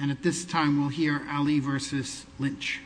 And at this time we'll hear Ali v. Lynch.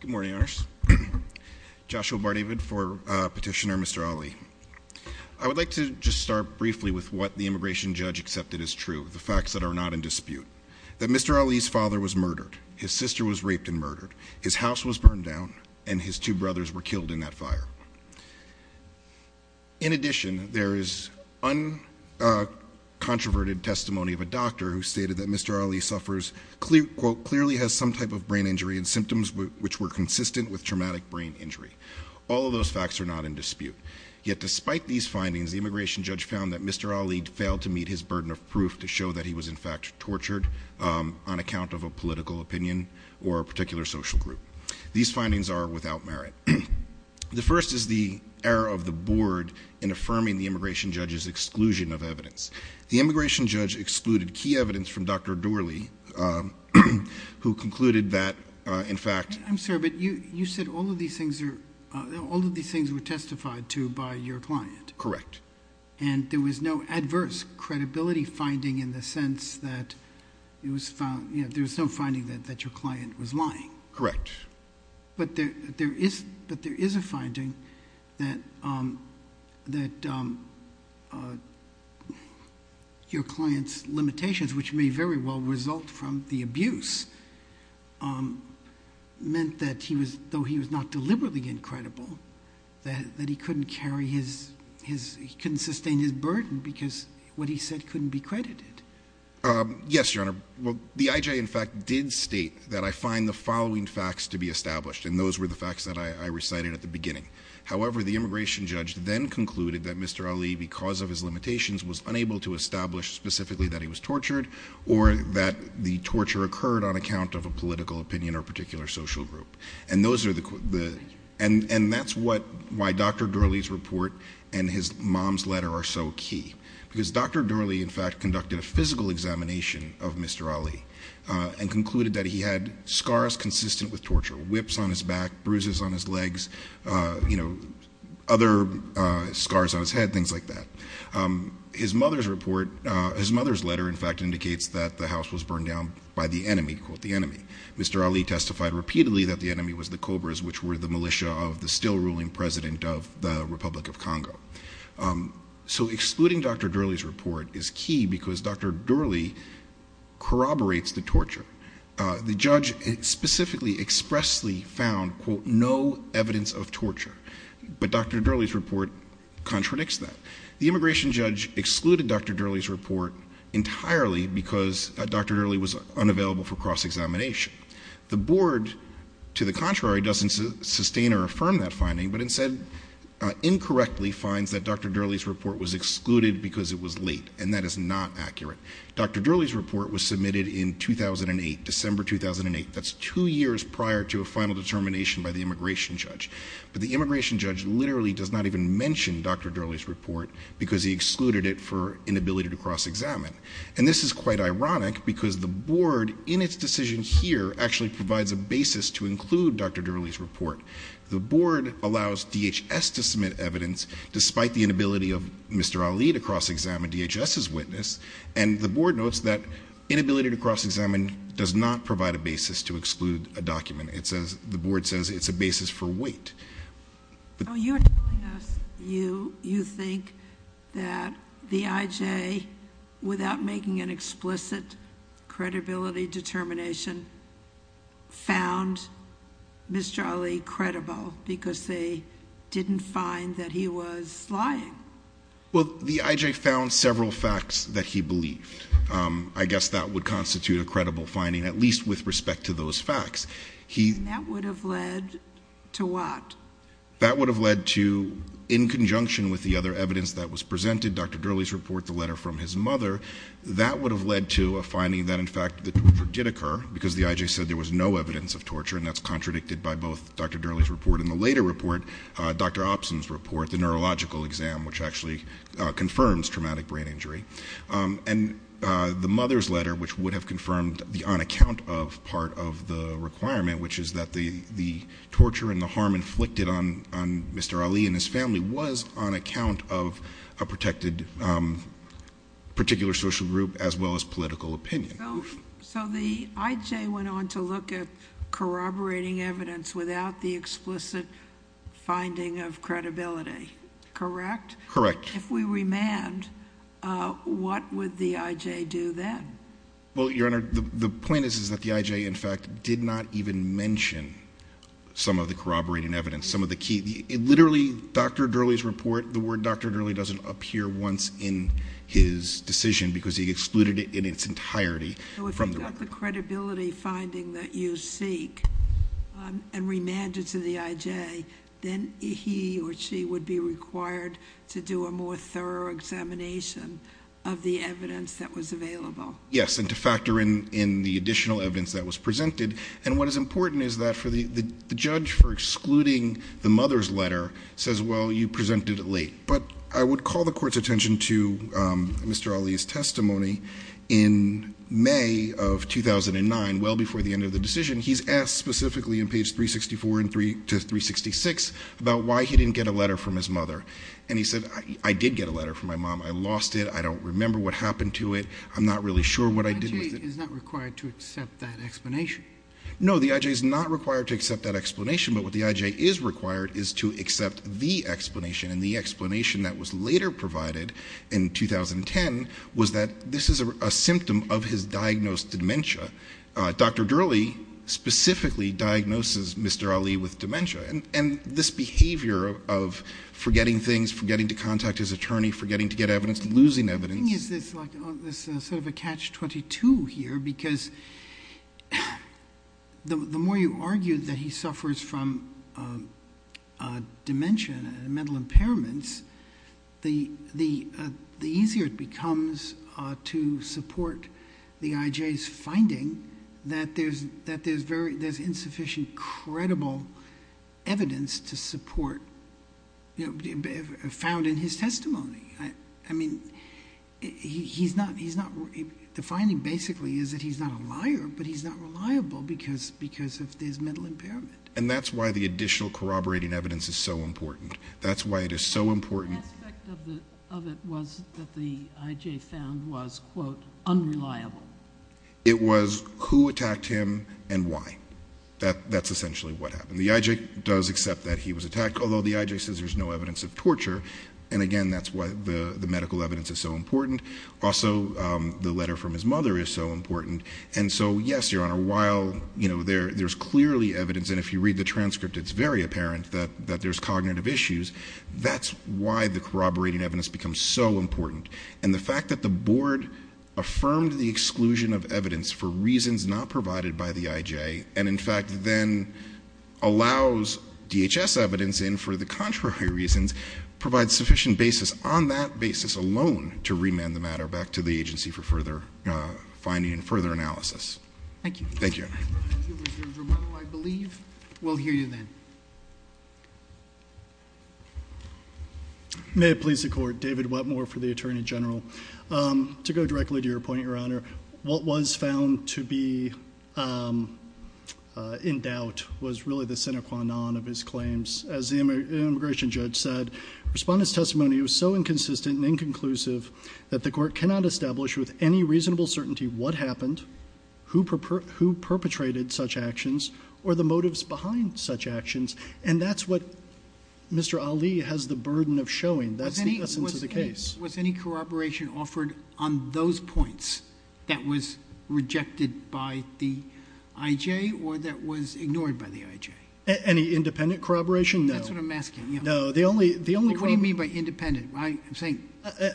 Good morning, everyone. I'm going to start with the facts that are not in dispute. That Mr. Ali's father was murdered, his sister was raped and murdered, his house was burned down and his two brothers were killed in that fire. In addition, there is uncontroverted testimony of a doctor who stated that Mr. Ali suffers clearly, quote, clearly has some type of brain injury and symptoms which were consistent with traumatic brain injury. All of those facts are not in dispute. Yet despite these findings, the immigration judge found that Mr. Ali failed to meet his tortured on account of a political opinion or a particular social group. These findings are without merit. The first is the error of the board in affirming the immigration judge's exclusion of evidence. The immigration judge excluded key evidence from Dr. Doerly who concluded that, in fact – I'm sorry, but you said all of these things were testified to by your client. Correct. And there was no adverse credibility finding in the sense that there was no finding that your client was lying. Correct. But there is a finding that your client's limitations, which may very well result from the abuse, meant that he was – though he was not deliberately incredible, that he couldn't carry his – he couldn't sustain his burden because what he said couldn't be credited. Yes, Your Honor. Well, the IJ, in fact, did state that I find the following facts to be established, and those were the facts that I recited at the beginning. However, the immigration judge then concluded that Mr. Ali, because of his limitations, was unable to establish specifically that he was tortured or that the torture occurred on account of a political opinion or particular social group. And those are the – and that's what – why Dr. Doerly's report and his mom's letter are so key. Because Dr. Doerly, in fact, conducted a physical examination of Mr. Ali and concluded that he had scars consistent with torture – whips on his back, bruises on his legs, you know, other scars on his head, things like that. His mother's report – his mother's letter, in fact, indicates that the house was burned down by the enemy, quote, the enemy. Mr. Ali testified repeatedly that the enemy was the Cobras, which were the militia of the still-ruling president of the Republic of Congo. So excluding Dr. Doerly's report is key because Dr. Doerly corroborates the torture. The judge specifically expressly found, quote, no evidence of torture. But Dr. Doerly's report contradicts that. The immigration judge excluded Dr. Doerly's report entirely because Dr. Doerly was unavailable for cross-examination. The board, to the contrary, doesn't sustain or affirm that finding, but instead incorrectly finds that Dr. Doerly's report was excluded because it was late, and that is not accurate. Dr. Doerly's report was submitted in 2008, December 2008. That's two years prior to a final determination by the immigration judge. But the immigration judge literally does not even mention Dr. Doerly's report because he excluded it for inability to cross-examine. And this is quite ironic because the board, in its decision here, actually provides a basis to include Dr. Doerly's report. The board allows DHS to submit evidence despite the inability of Mr. Ali to cross-examine DHS's witness, and the board notes that inability to cross-examine does not provide a basis to exclude a document. It says, the board says it's a basis for weight. Oh, you're telling us you think that the IJ, without making an explicit credibility determination, found Mr. Ali credible because they didn't find that he was lying. Well, the IJ found several facts that he believed. I guess that would constitute a credible finding, at least with respect to those facts. And that would have led to what? That would have led to, in conjunction with the other evidence that was presented, Dr. Doerly's report, the letter from his mother. That would have led to a finding that, in fact, the torture did occur because the IJ said there was no evidence of torture, and that's contradicted by both Dr. Doerly's report and the later report, Dr. Opson's report, the neurological exam, which actually confirms traumatic brain injury. And the mother's letter, which would have confirmed the on-account of part of the requirement, which is that the torture and the harm inflicted on Mr. Ali and his family was on account of a protected particular social group, as well as political opinion. So the IJ went on to look at corroborating evidence without the explicit finding of credibility, correct? Correct. If we remand, what would the IJ do then? Well, Your Honor, the point is that the IJ, in fact, did not even mention some of the corroborating evidence, some of the key. Literally, Dr. Doerly's report, the word Dr. Doerly doesn't appear once in his decision because he excluded it in its entirety from the record. So if you've got the credibility finding that you seek and remanded to the IJ, then he or she would be required to do a more thorough examination of the evidence that was available. Yes, and to factor in the additional evidence that was presented. And what is important is that the judge for excluding the mother's letter says, well, you presented it late. But I would call the court's attention to Mr. Ali's testimony in May of 2009, well before the end of the decision. He's asked specifically in page 364 to 366 about why he didn't get a letter from his mother. And he said, I did get a letter from my mom. I lost it. I don't remember what happened to it. I'm not really sure what I did with it. The IJ is not required to accept that explanation. No, the IJ is not required to accept that explanation. But what the IJ is required is to accept the explanation. And the explanation that was later provided in 2010 was that this is a symptom of his diagnosed dementia. Dr. Durley specifically diagnoses Mr. Ali with dementia. And this behavior of forgetting things, forgetting to contact his attorney, forgetting to get evidence, losing evidence. I think it's sort of a catch-22 here. Because the more you argue that he suffers from dementia and mental impairments, the easier it becomes to support the IJ's finding that there's insufficient credible evidence to support, found in his testimony. I mean, he's not, the finding basically is that he's not a liar, but he's not reliable because of his mental impairment. And that's why the additional corroborating evidence is so important. That's why it is so important. One aspect of it was that the IJ found was, quote, unreliable. It was who attacked him and why. That's essentially what happened. The IJ does accept that he was attacked, although the IJ says there's no evidence of torture. And again, that's why the medical evidence is so important. Also the letter from his mother is so important. And so yes, Your Honor, while there's clearly evidence, and if you read the transcript, it's very apparent that there's cognitive issues. That's why the corroborating evidence becomes so important. And the fact that the board affirmed the exclusion of evidence for reasons not provided by the IJ, and in fact then allows DHS evidence in for the contrary reasons, provides sufficient basis on that basis alone to remand the matter back to the agency for further finding and further analysis. Thank you. Thank you. Thank you, Mr. Drummond. I believe we'll hear you then. May it please the Court. David Wetmore for the Attorney General. To go directly to your point, Your Honor, what was found to be in doubt was really the sine qua non of his claims. As the immigration judge said, Respondent's testimony was so inconsistent and inconclusive that the Court cannot establish with any reasonable certainty what happened, who perpetrated such actions, or the motives behind such actions. And that's what Mr. Ali has the burden of showing. That's the essence of the case. Was any corroboration offered on those points that was rejected by the IJ or that was ignored by the IJ? Any independent corroboration? No. That's what I'm asking. No. The only... What do you mean by independent? I'm saying...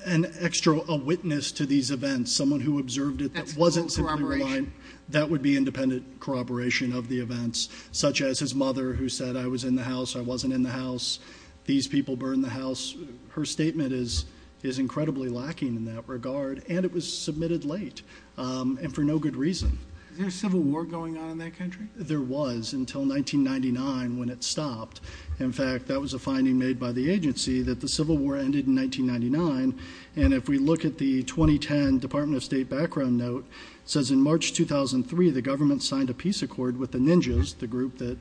An extra witness to these events, someone who observed it that wasn't simply mine. That would be independent corroboration of the events, such as his mother who said, I was in the house, I wasn't in the house, these people burned the house. Her statement is incredibly lacking in that regard, and it was submitted late and for no good reason. Is there a civil war going on in that country? There was until 1999 when it stopped. In fact, that was a finding made by the agency that the civil war ended in 1999, and if we look at the 2010 Department of State background note, it says in March 2003, the government signed a peace accord with the Ninjas, the group that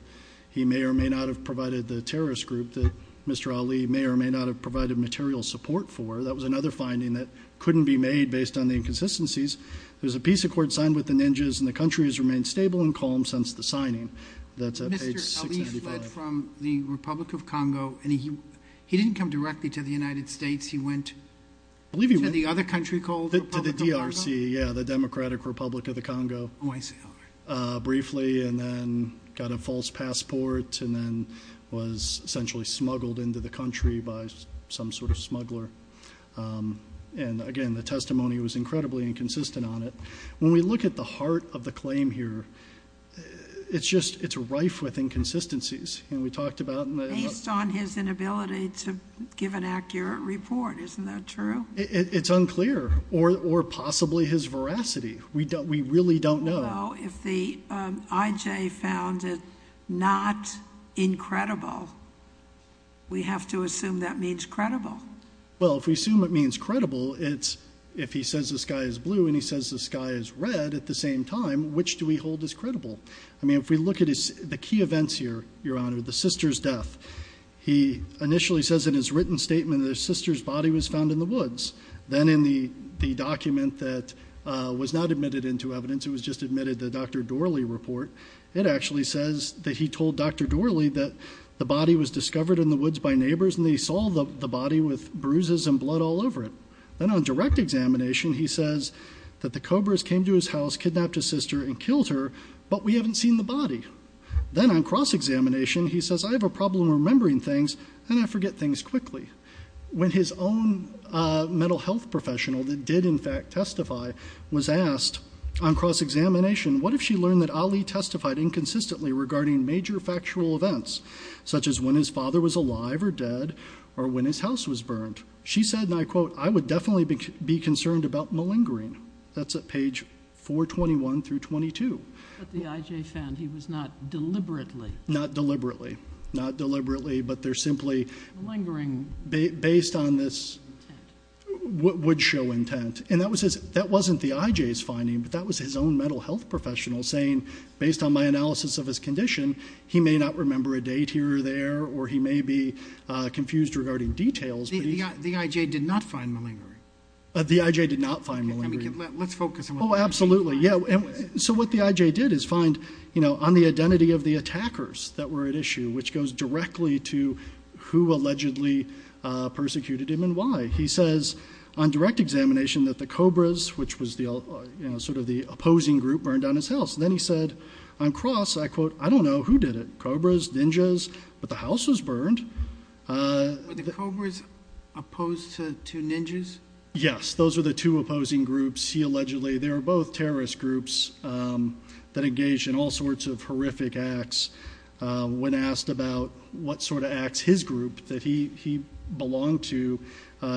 he may or may not have provided the terrorist group that Mr. Ali may or may not have provided material support for. That was another finding that couldn't be made based on the inconsistencies. There was a peace accord signed with the Ninjas, and the country has remained stable and calm since the signing. That's at page 695. He fled from the Republic of Congo, and he didn't come directly to the United States. He went to the other country called the Republic of Congo? To the DRC, yeah, the Democratic Republic of the Congo. Oh, I see. All right. Briefly, and then got a false passport, and then was essentially smuggled into the country by some sort of smuggler, and again, the testimony was incredibly inconsistent on it. When we look at the heart of the claim here, it's just, it's rife with inconsistencies. We talked about- Based on his inability to give an accurate report, isn't that true? It's unclear, or possibly his veracity. We really don't know. We don't know. If the IJ found it not incredible, we have to assume that means credible. Well, if we assume it means credible, it's if he says the sky is blue and he says the sky is red at the same time, which do we hold as credible? I mean, if we look at the key events here, Your Honor, the sister's death, he initially says in his written statement that his sister's body was found in the woods. Then in the document that was not admitted into evidence, it was just admitted, the Dr. Dorely report, it actually says that he told Dr. Dorely that the body was discovered in the woods by neighbors and they saw the body with bruises and blood all over it. Then on direct examination, he says that the cobras came to his house, kidnapped his sister and killed her, but we haven't seen the body. Then on cross-examination, he says, I have a problem remembering things and I forget things quickly. When his own mental health professional that did, in fact, testify was asked on cross-examination, what if she learned that Ali testified inconsistently regarding major factual events, such as when his father was alive or dead, or when his house was burned? She said, and I quote, I would definitely be concerned about malingering. That's at page 421 through 22. But the IJ found he was not deliberately. Not deliberately. Not deliberately, but they're simply. Malingering. Based on this wood show intent, and that wasn't the IJ's finding, but that was his own mental health professional saying, based on my analysis of his condition, he may not remember a date here or there, or he may be confused regarding details. The IJ did not find malingering. The IJ did not find malingering. Let's focus on what the IJ did. Oh, absolutely. So what the IJ did is find on the identity of the attackers that were at issue, which goes directly to who allegedly persecuted him and why. He says on direct examination that the cobras, which was sort of the opposing group, burned down his house. Then he said, on cross, I quote, I don't know who did it, cobras, ninjas, but the house was burned. Were the cobras opposed to ninjas? Yes. Those were the two opposing groups. He allegedly, they were both terrorist groups that engaged in all sorts of horrific acts. When asked about what sort of acts his group that he belonged to,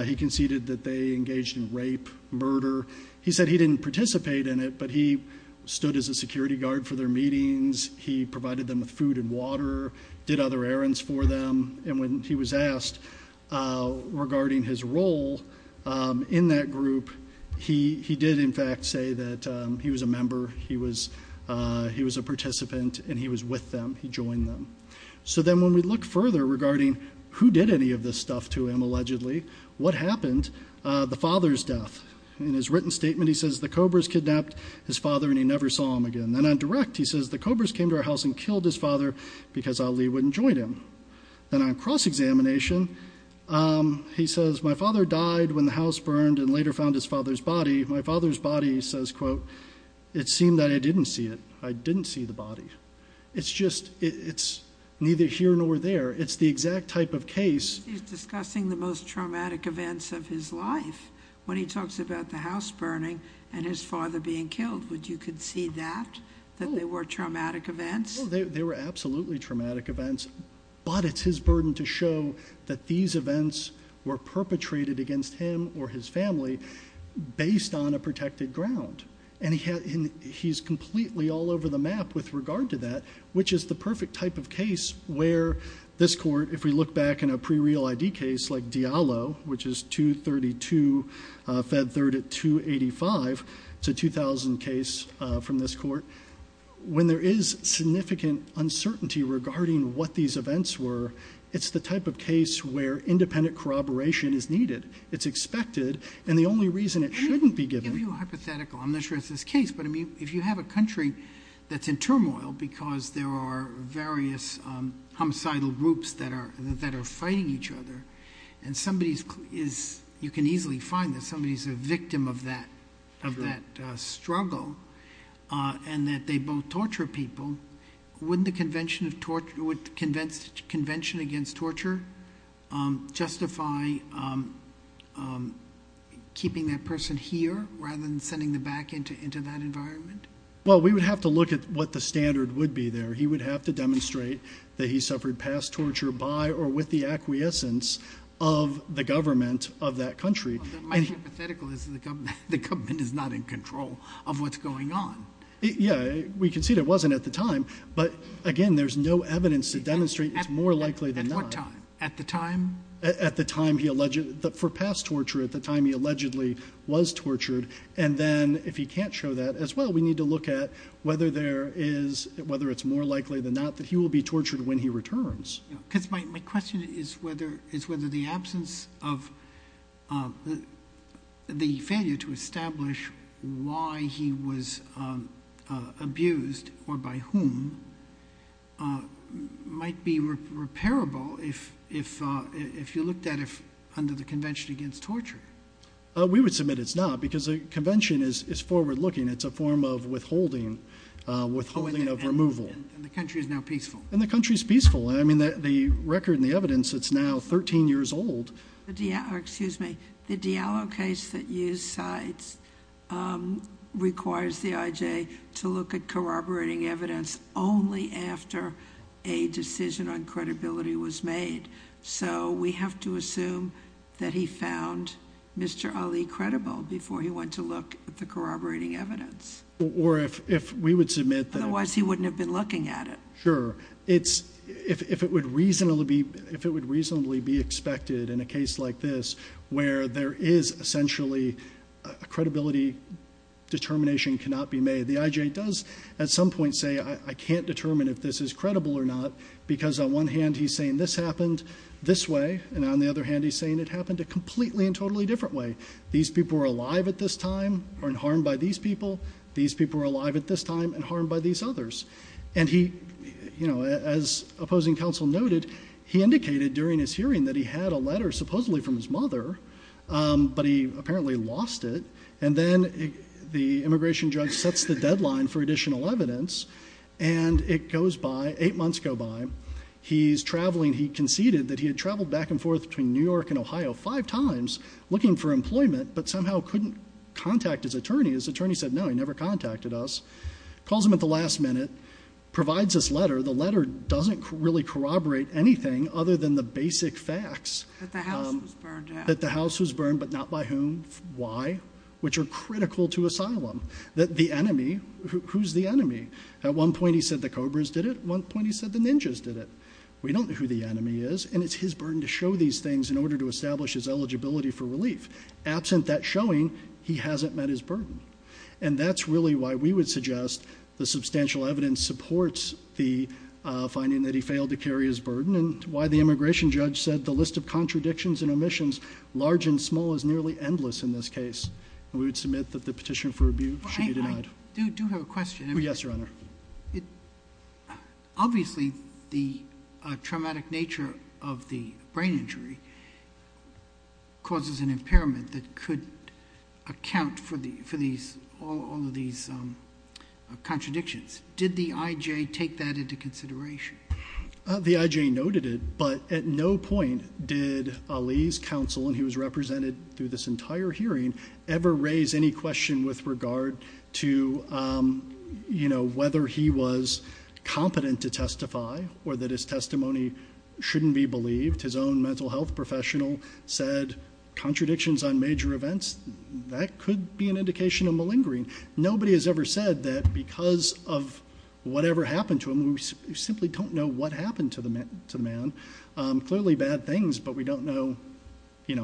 he conceded that they engaged in rape, murder. He said he didn't participate in it, but he stood as a security guard for their meetings. He provided them with food and water, did other errands for them. And when he was asked regarding his role in that group, he did in fact say that he was a member, he was a participant, and he was with them, he joined them. So then when we look further regarding who did any of this stuff to him allegedly, what happened? The father's death. In his written statement, he says the cobras kidnapped his father and he never saw him again. Then on direct, he says the cobras came to our house and killed his father because Ali wouldn't join him. Then on cross-examination, he says my father died when the house burned and later found his father's body. My father's body, he says, quote, it seemed that I didn't see it. I didn't see the body. It's just, it's neither here nor there. It's the exact type of case. He's discussing the most traumatic events of his life when he talks about the house burning and his father being killed. Would you concede that, that they were traumatic events? They were absolutely traumatic events, but it's his burden to show that these events were perpetrated against him or his family based on a protected ground. And he's completely all over the map with regard to that, which is the perfect type of case where this court, if we look back in a pre-real ID case like Diallo, which is 232, fed third at 285, it's a 2000 case from this court. When there is significant uncertainty regarding what these events were, it's the type of case where independent corroboration is needed. It's expected. And the only reason it shouldn't be given- Let me give you a hypothetical. I'm not sure it's this case, but I mean, if you have a country that's in turmoil because there are various homicidal groups that are fighting each other and somebody is, you can easily find that somebody's a victim of that struggle and that they both torture people, wouldn't the Convention Against Torture justify keeping that person here rather than sending them back into that environment? Well, we would have to look at what the standard would be there. He would have to demonstrate that he suffered past torture by or with the acquiescence of the government of that country. My hypothetical is that the government is not in control of what's going on. Yeah, we can see that it wasn't at the time, but again, there's no evidence to demonstrate it's more likely than not. At what time? At the time? And then if he can't show that as well, we need to look at whether it's more likely than not that he will be tortured when he returns. Because my question is whether the absence of the failure to establish why he was abused or by whom might be repairable if you looked at it under the Convention Against Torture. We would submit it's not because the convention is forward-looking. It's a form of withholding, withholding of removal. And the country is now peaceful. And the country is peaceful. I mean, the record and the evidence, it's now 13 years old. Excuse me, the Diallo case that used sides requires the IJ to look at corroborating evidence only after a decision on credibility was made. So we have to assume that he found Mr. Ali credible before he went to look at the corroborating evidence. Or if we would submit that- Otherwise he wouldn't have been looking at it. Sure. It's, if it would reasonably be expected in a case like this where there is essentially a credibility determination cannot be made, the IJ does at some point say, I can't determine if this is credible or not because on one hand he's saying this happened this way and on the other hand he's saying it happened a completely and totally different way. These people were alive at this time and harmed by these people. These people were alive at this time and harmed by these others. And he, you know, as opposing counsel noted, he indicated during his hearing that he had a letter supposedly from his mother, but he apparently lost it. And then the immigration judge sets the deadline for additional evidence and it goes by, eight months go by. He's traveling, he conceded that he had traveled back and forth between New York and Ohio five times looking for employment but somehow couldn't contact his attorney, his attorney said no, he never contacted us. Calls him at the last minute, provides this letter, the letter doesn't really corroborate anything other than the basic facts. That the house was burned down. Why? Which are critical to asylum. That the enemy, who's the enemy? At one point he said the Cobras did it, at one point he said the ninjas did it. We don't know who the enemy is and it's his burden to show these things in order to establish his eligibility for relief. Absent that showing, he hasn't met his burden. And that's really why we would suggest the substantial evidence supports the finding that he failed to carry his burden. And why the immigration judge said the list of contradictions and omissions, large and small, is nearly endless in this case. We would submit that the petition for rebuke should be denied. I do have a question. Yes, your honor. Obviously, the traumatic nature of the brain injury causes an impairment that could account for all of these contradictions. Did the IJ take that into consideration? The IJ noted it, but at no point did Ali's counsel, and he was represented through this entire hearing, ever raise any question with regard to whether he was competent to testify or that his testimony shouldn't be believed. His own mental health professional said contradictions on major events, that could be an indication of malingering. Nobody has ever said that because of whatever happened to him, we simply don't know what happened to the man. Clearly bad things, but we don't know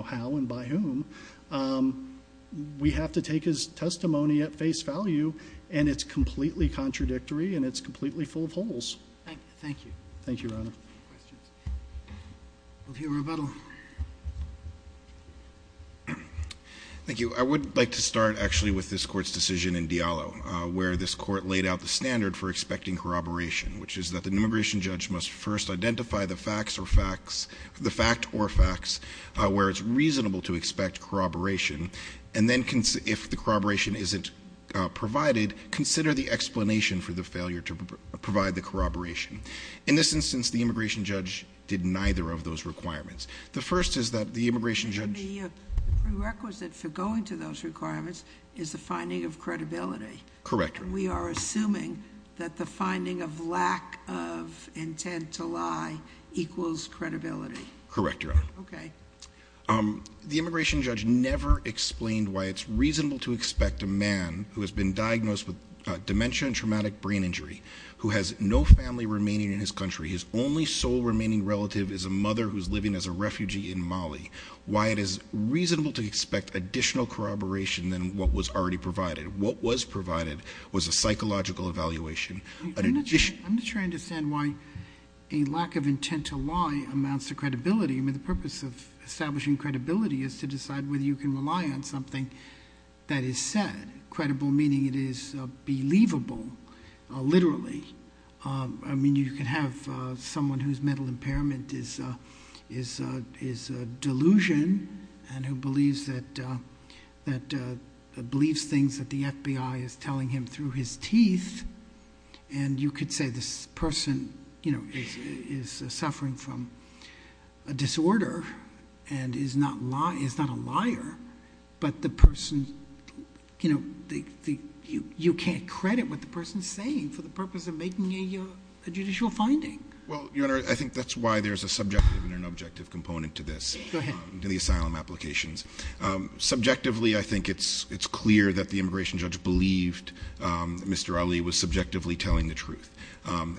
how and by whom. We have to take his testimony at face value, and it's completely contradictory, and it's completely full of holes. Thank you. Thank you, your honor. Questions? We'll hear a rebuttal. Thank you. I would like to start actually with this court's decision in Diallo, where this court laid out the standard for expecting corroboration. Which is that the immigration judge must first identify the fact or facts where it's reasonable to expect corroboration. And then if the corroboration isn't provided, consider the explanation for the failure to provide the corroboration. In this instance, the immigration judge did neither of those requirements. The first is that the immigration judge- The prerequisite for going to those requirements is the finding of credibility. Correct. We are assuming that the finding of lack of intent to lie equals credibility. Correct, your honor. Okay. The immigration judge never explained why it's reasonable to expect a man who has been diagnosed with dementia and remaining in his country, his only sole remaining relative is a mother who's living as a refugee in Mali. Why it is reasonable to expect additional corroboration than what was already provided. What was provided was a psychological evaluation. I'm not sure I understand why a lack of intent to lie amounts to credibility. I mean, the purpose of establishing credibility is to decide whether you can rely on something that is said. Credible meaning it is believable, literally. I mean, you can have someone whose mental impairment is a delusion and who believes things that the FBI is telling him through his teeth. And you could say this person is suffering from a disorder and is not a liar, but the person, you can't credit what the person's saying for the purpose of making a judicial finding. Well, your honor, I think that's why there's a subjective and an objective component to this. Go ahead. In the asylum applications. Subjectively, I think it's clear that the immigration judge believed Mr. Ali was subjectively telling the truth.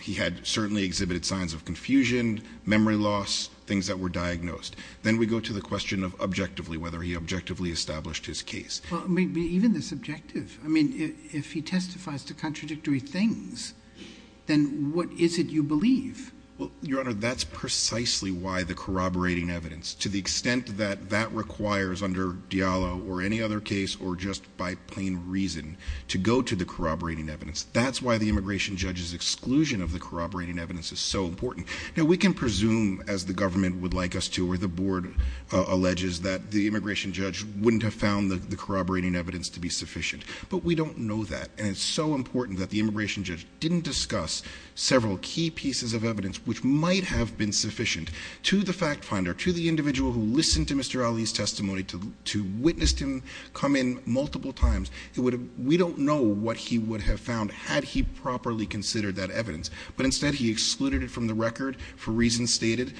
He had certainly exhibited signs of confusion, memory loss, things that were diagnosed. Then we go to the question of objectively, whether he objectively established his case. Well, I mean, even the subjective. I mean, if he testifies to contradictory things, then what is it you believe? Well, your honor, that's precisely why the corroborating evidence, to the extent that that requires under Diallo or any other case or just by plain reason to go to the corroborating evidence. That's why the immigration judge's exclusion of the corroborating evidence is so important. Now, we can presume, as the government would like us to, or the board alleges that the immigration judge wouldn't have found the corroborating evidence to be sufficient. But we don't know that. And it's so important that the immigration judge didn't discuss several key pieces of evidence which might have been sufficient to the fact finder, to the individual who listened to Mr. Ali's testimony, to witness him come in multiple times. We don't know what he would have found had he properly considered that evidence. But instead, he excluded it from the record for reasons stated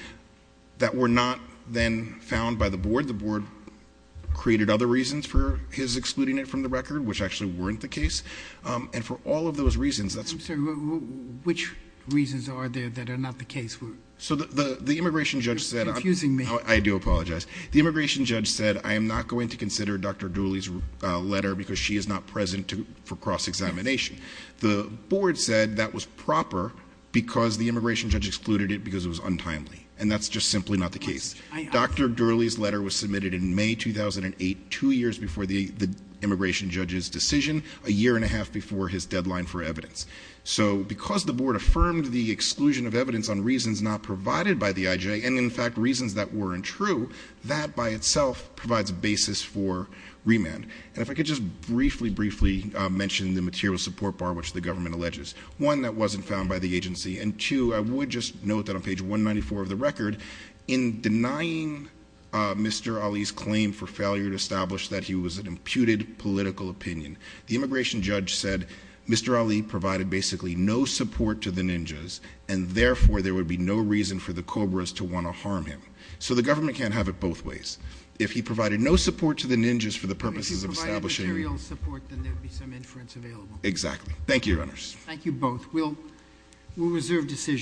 that were not then found by the board. The board created other reasons for his excluding it from the record, which actually weren't the case. And for all of those reasons, that's- I'm sorry, which reasons are there that are not the case? So the immigration judge said- You're confusing me. I do apologize. The immigration judge said, I am not going to consider Dr. Dooley's letter because she is not present for cross-examination. The board said that was proper because the immigration judge excluded it because it was untimely. And that's just simply not the case. Dr. Dooley's letter was submitted in May 2008, two years before the immigration judge's decision, a year and a half before his deadline for evidence. So because the board affirmed the exclusion of evidence on reasons not provided by the IJ, and in fact, reasons that weren't true, that by itself provides a basis for remand. And if I could just briefly, briefly mention the material support bar which the government alleges. One, that wasn't found by the agency, and two, I would just note that on page 194 of the record, in denying Mr. Ali's claim for failure to establish that he was an imputed political opinion. The immigration judge said, Mr. Ali provided basically no support to the ninjas and therefore there would be no reason for the Cobras to want to harm him. So the government can't have it both ways. If he provided no support to the ninjas for the purposes of establishing- If he provided material support, then there'd be some inference available. Thank you, Your Honors. Thank you both. We'll reserve decision.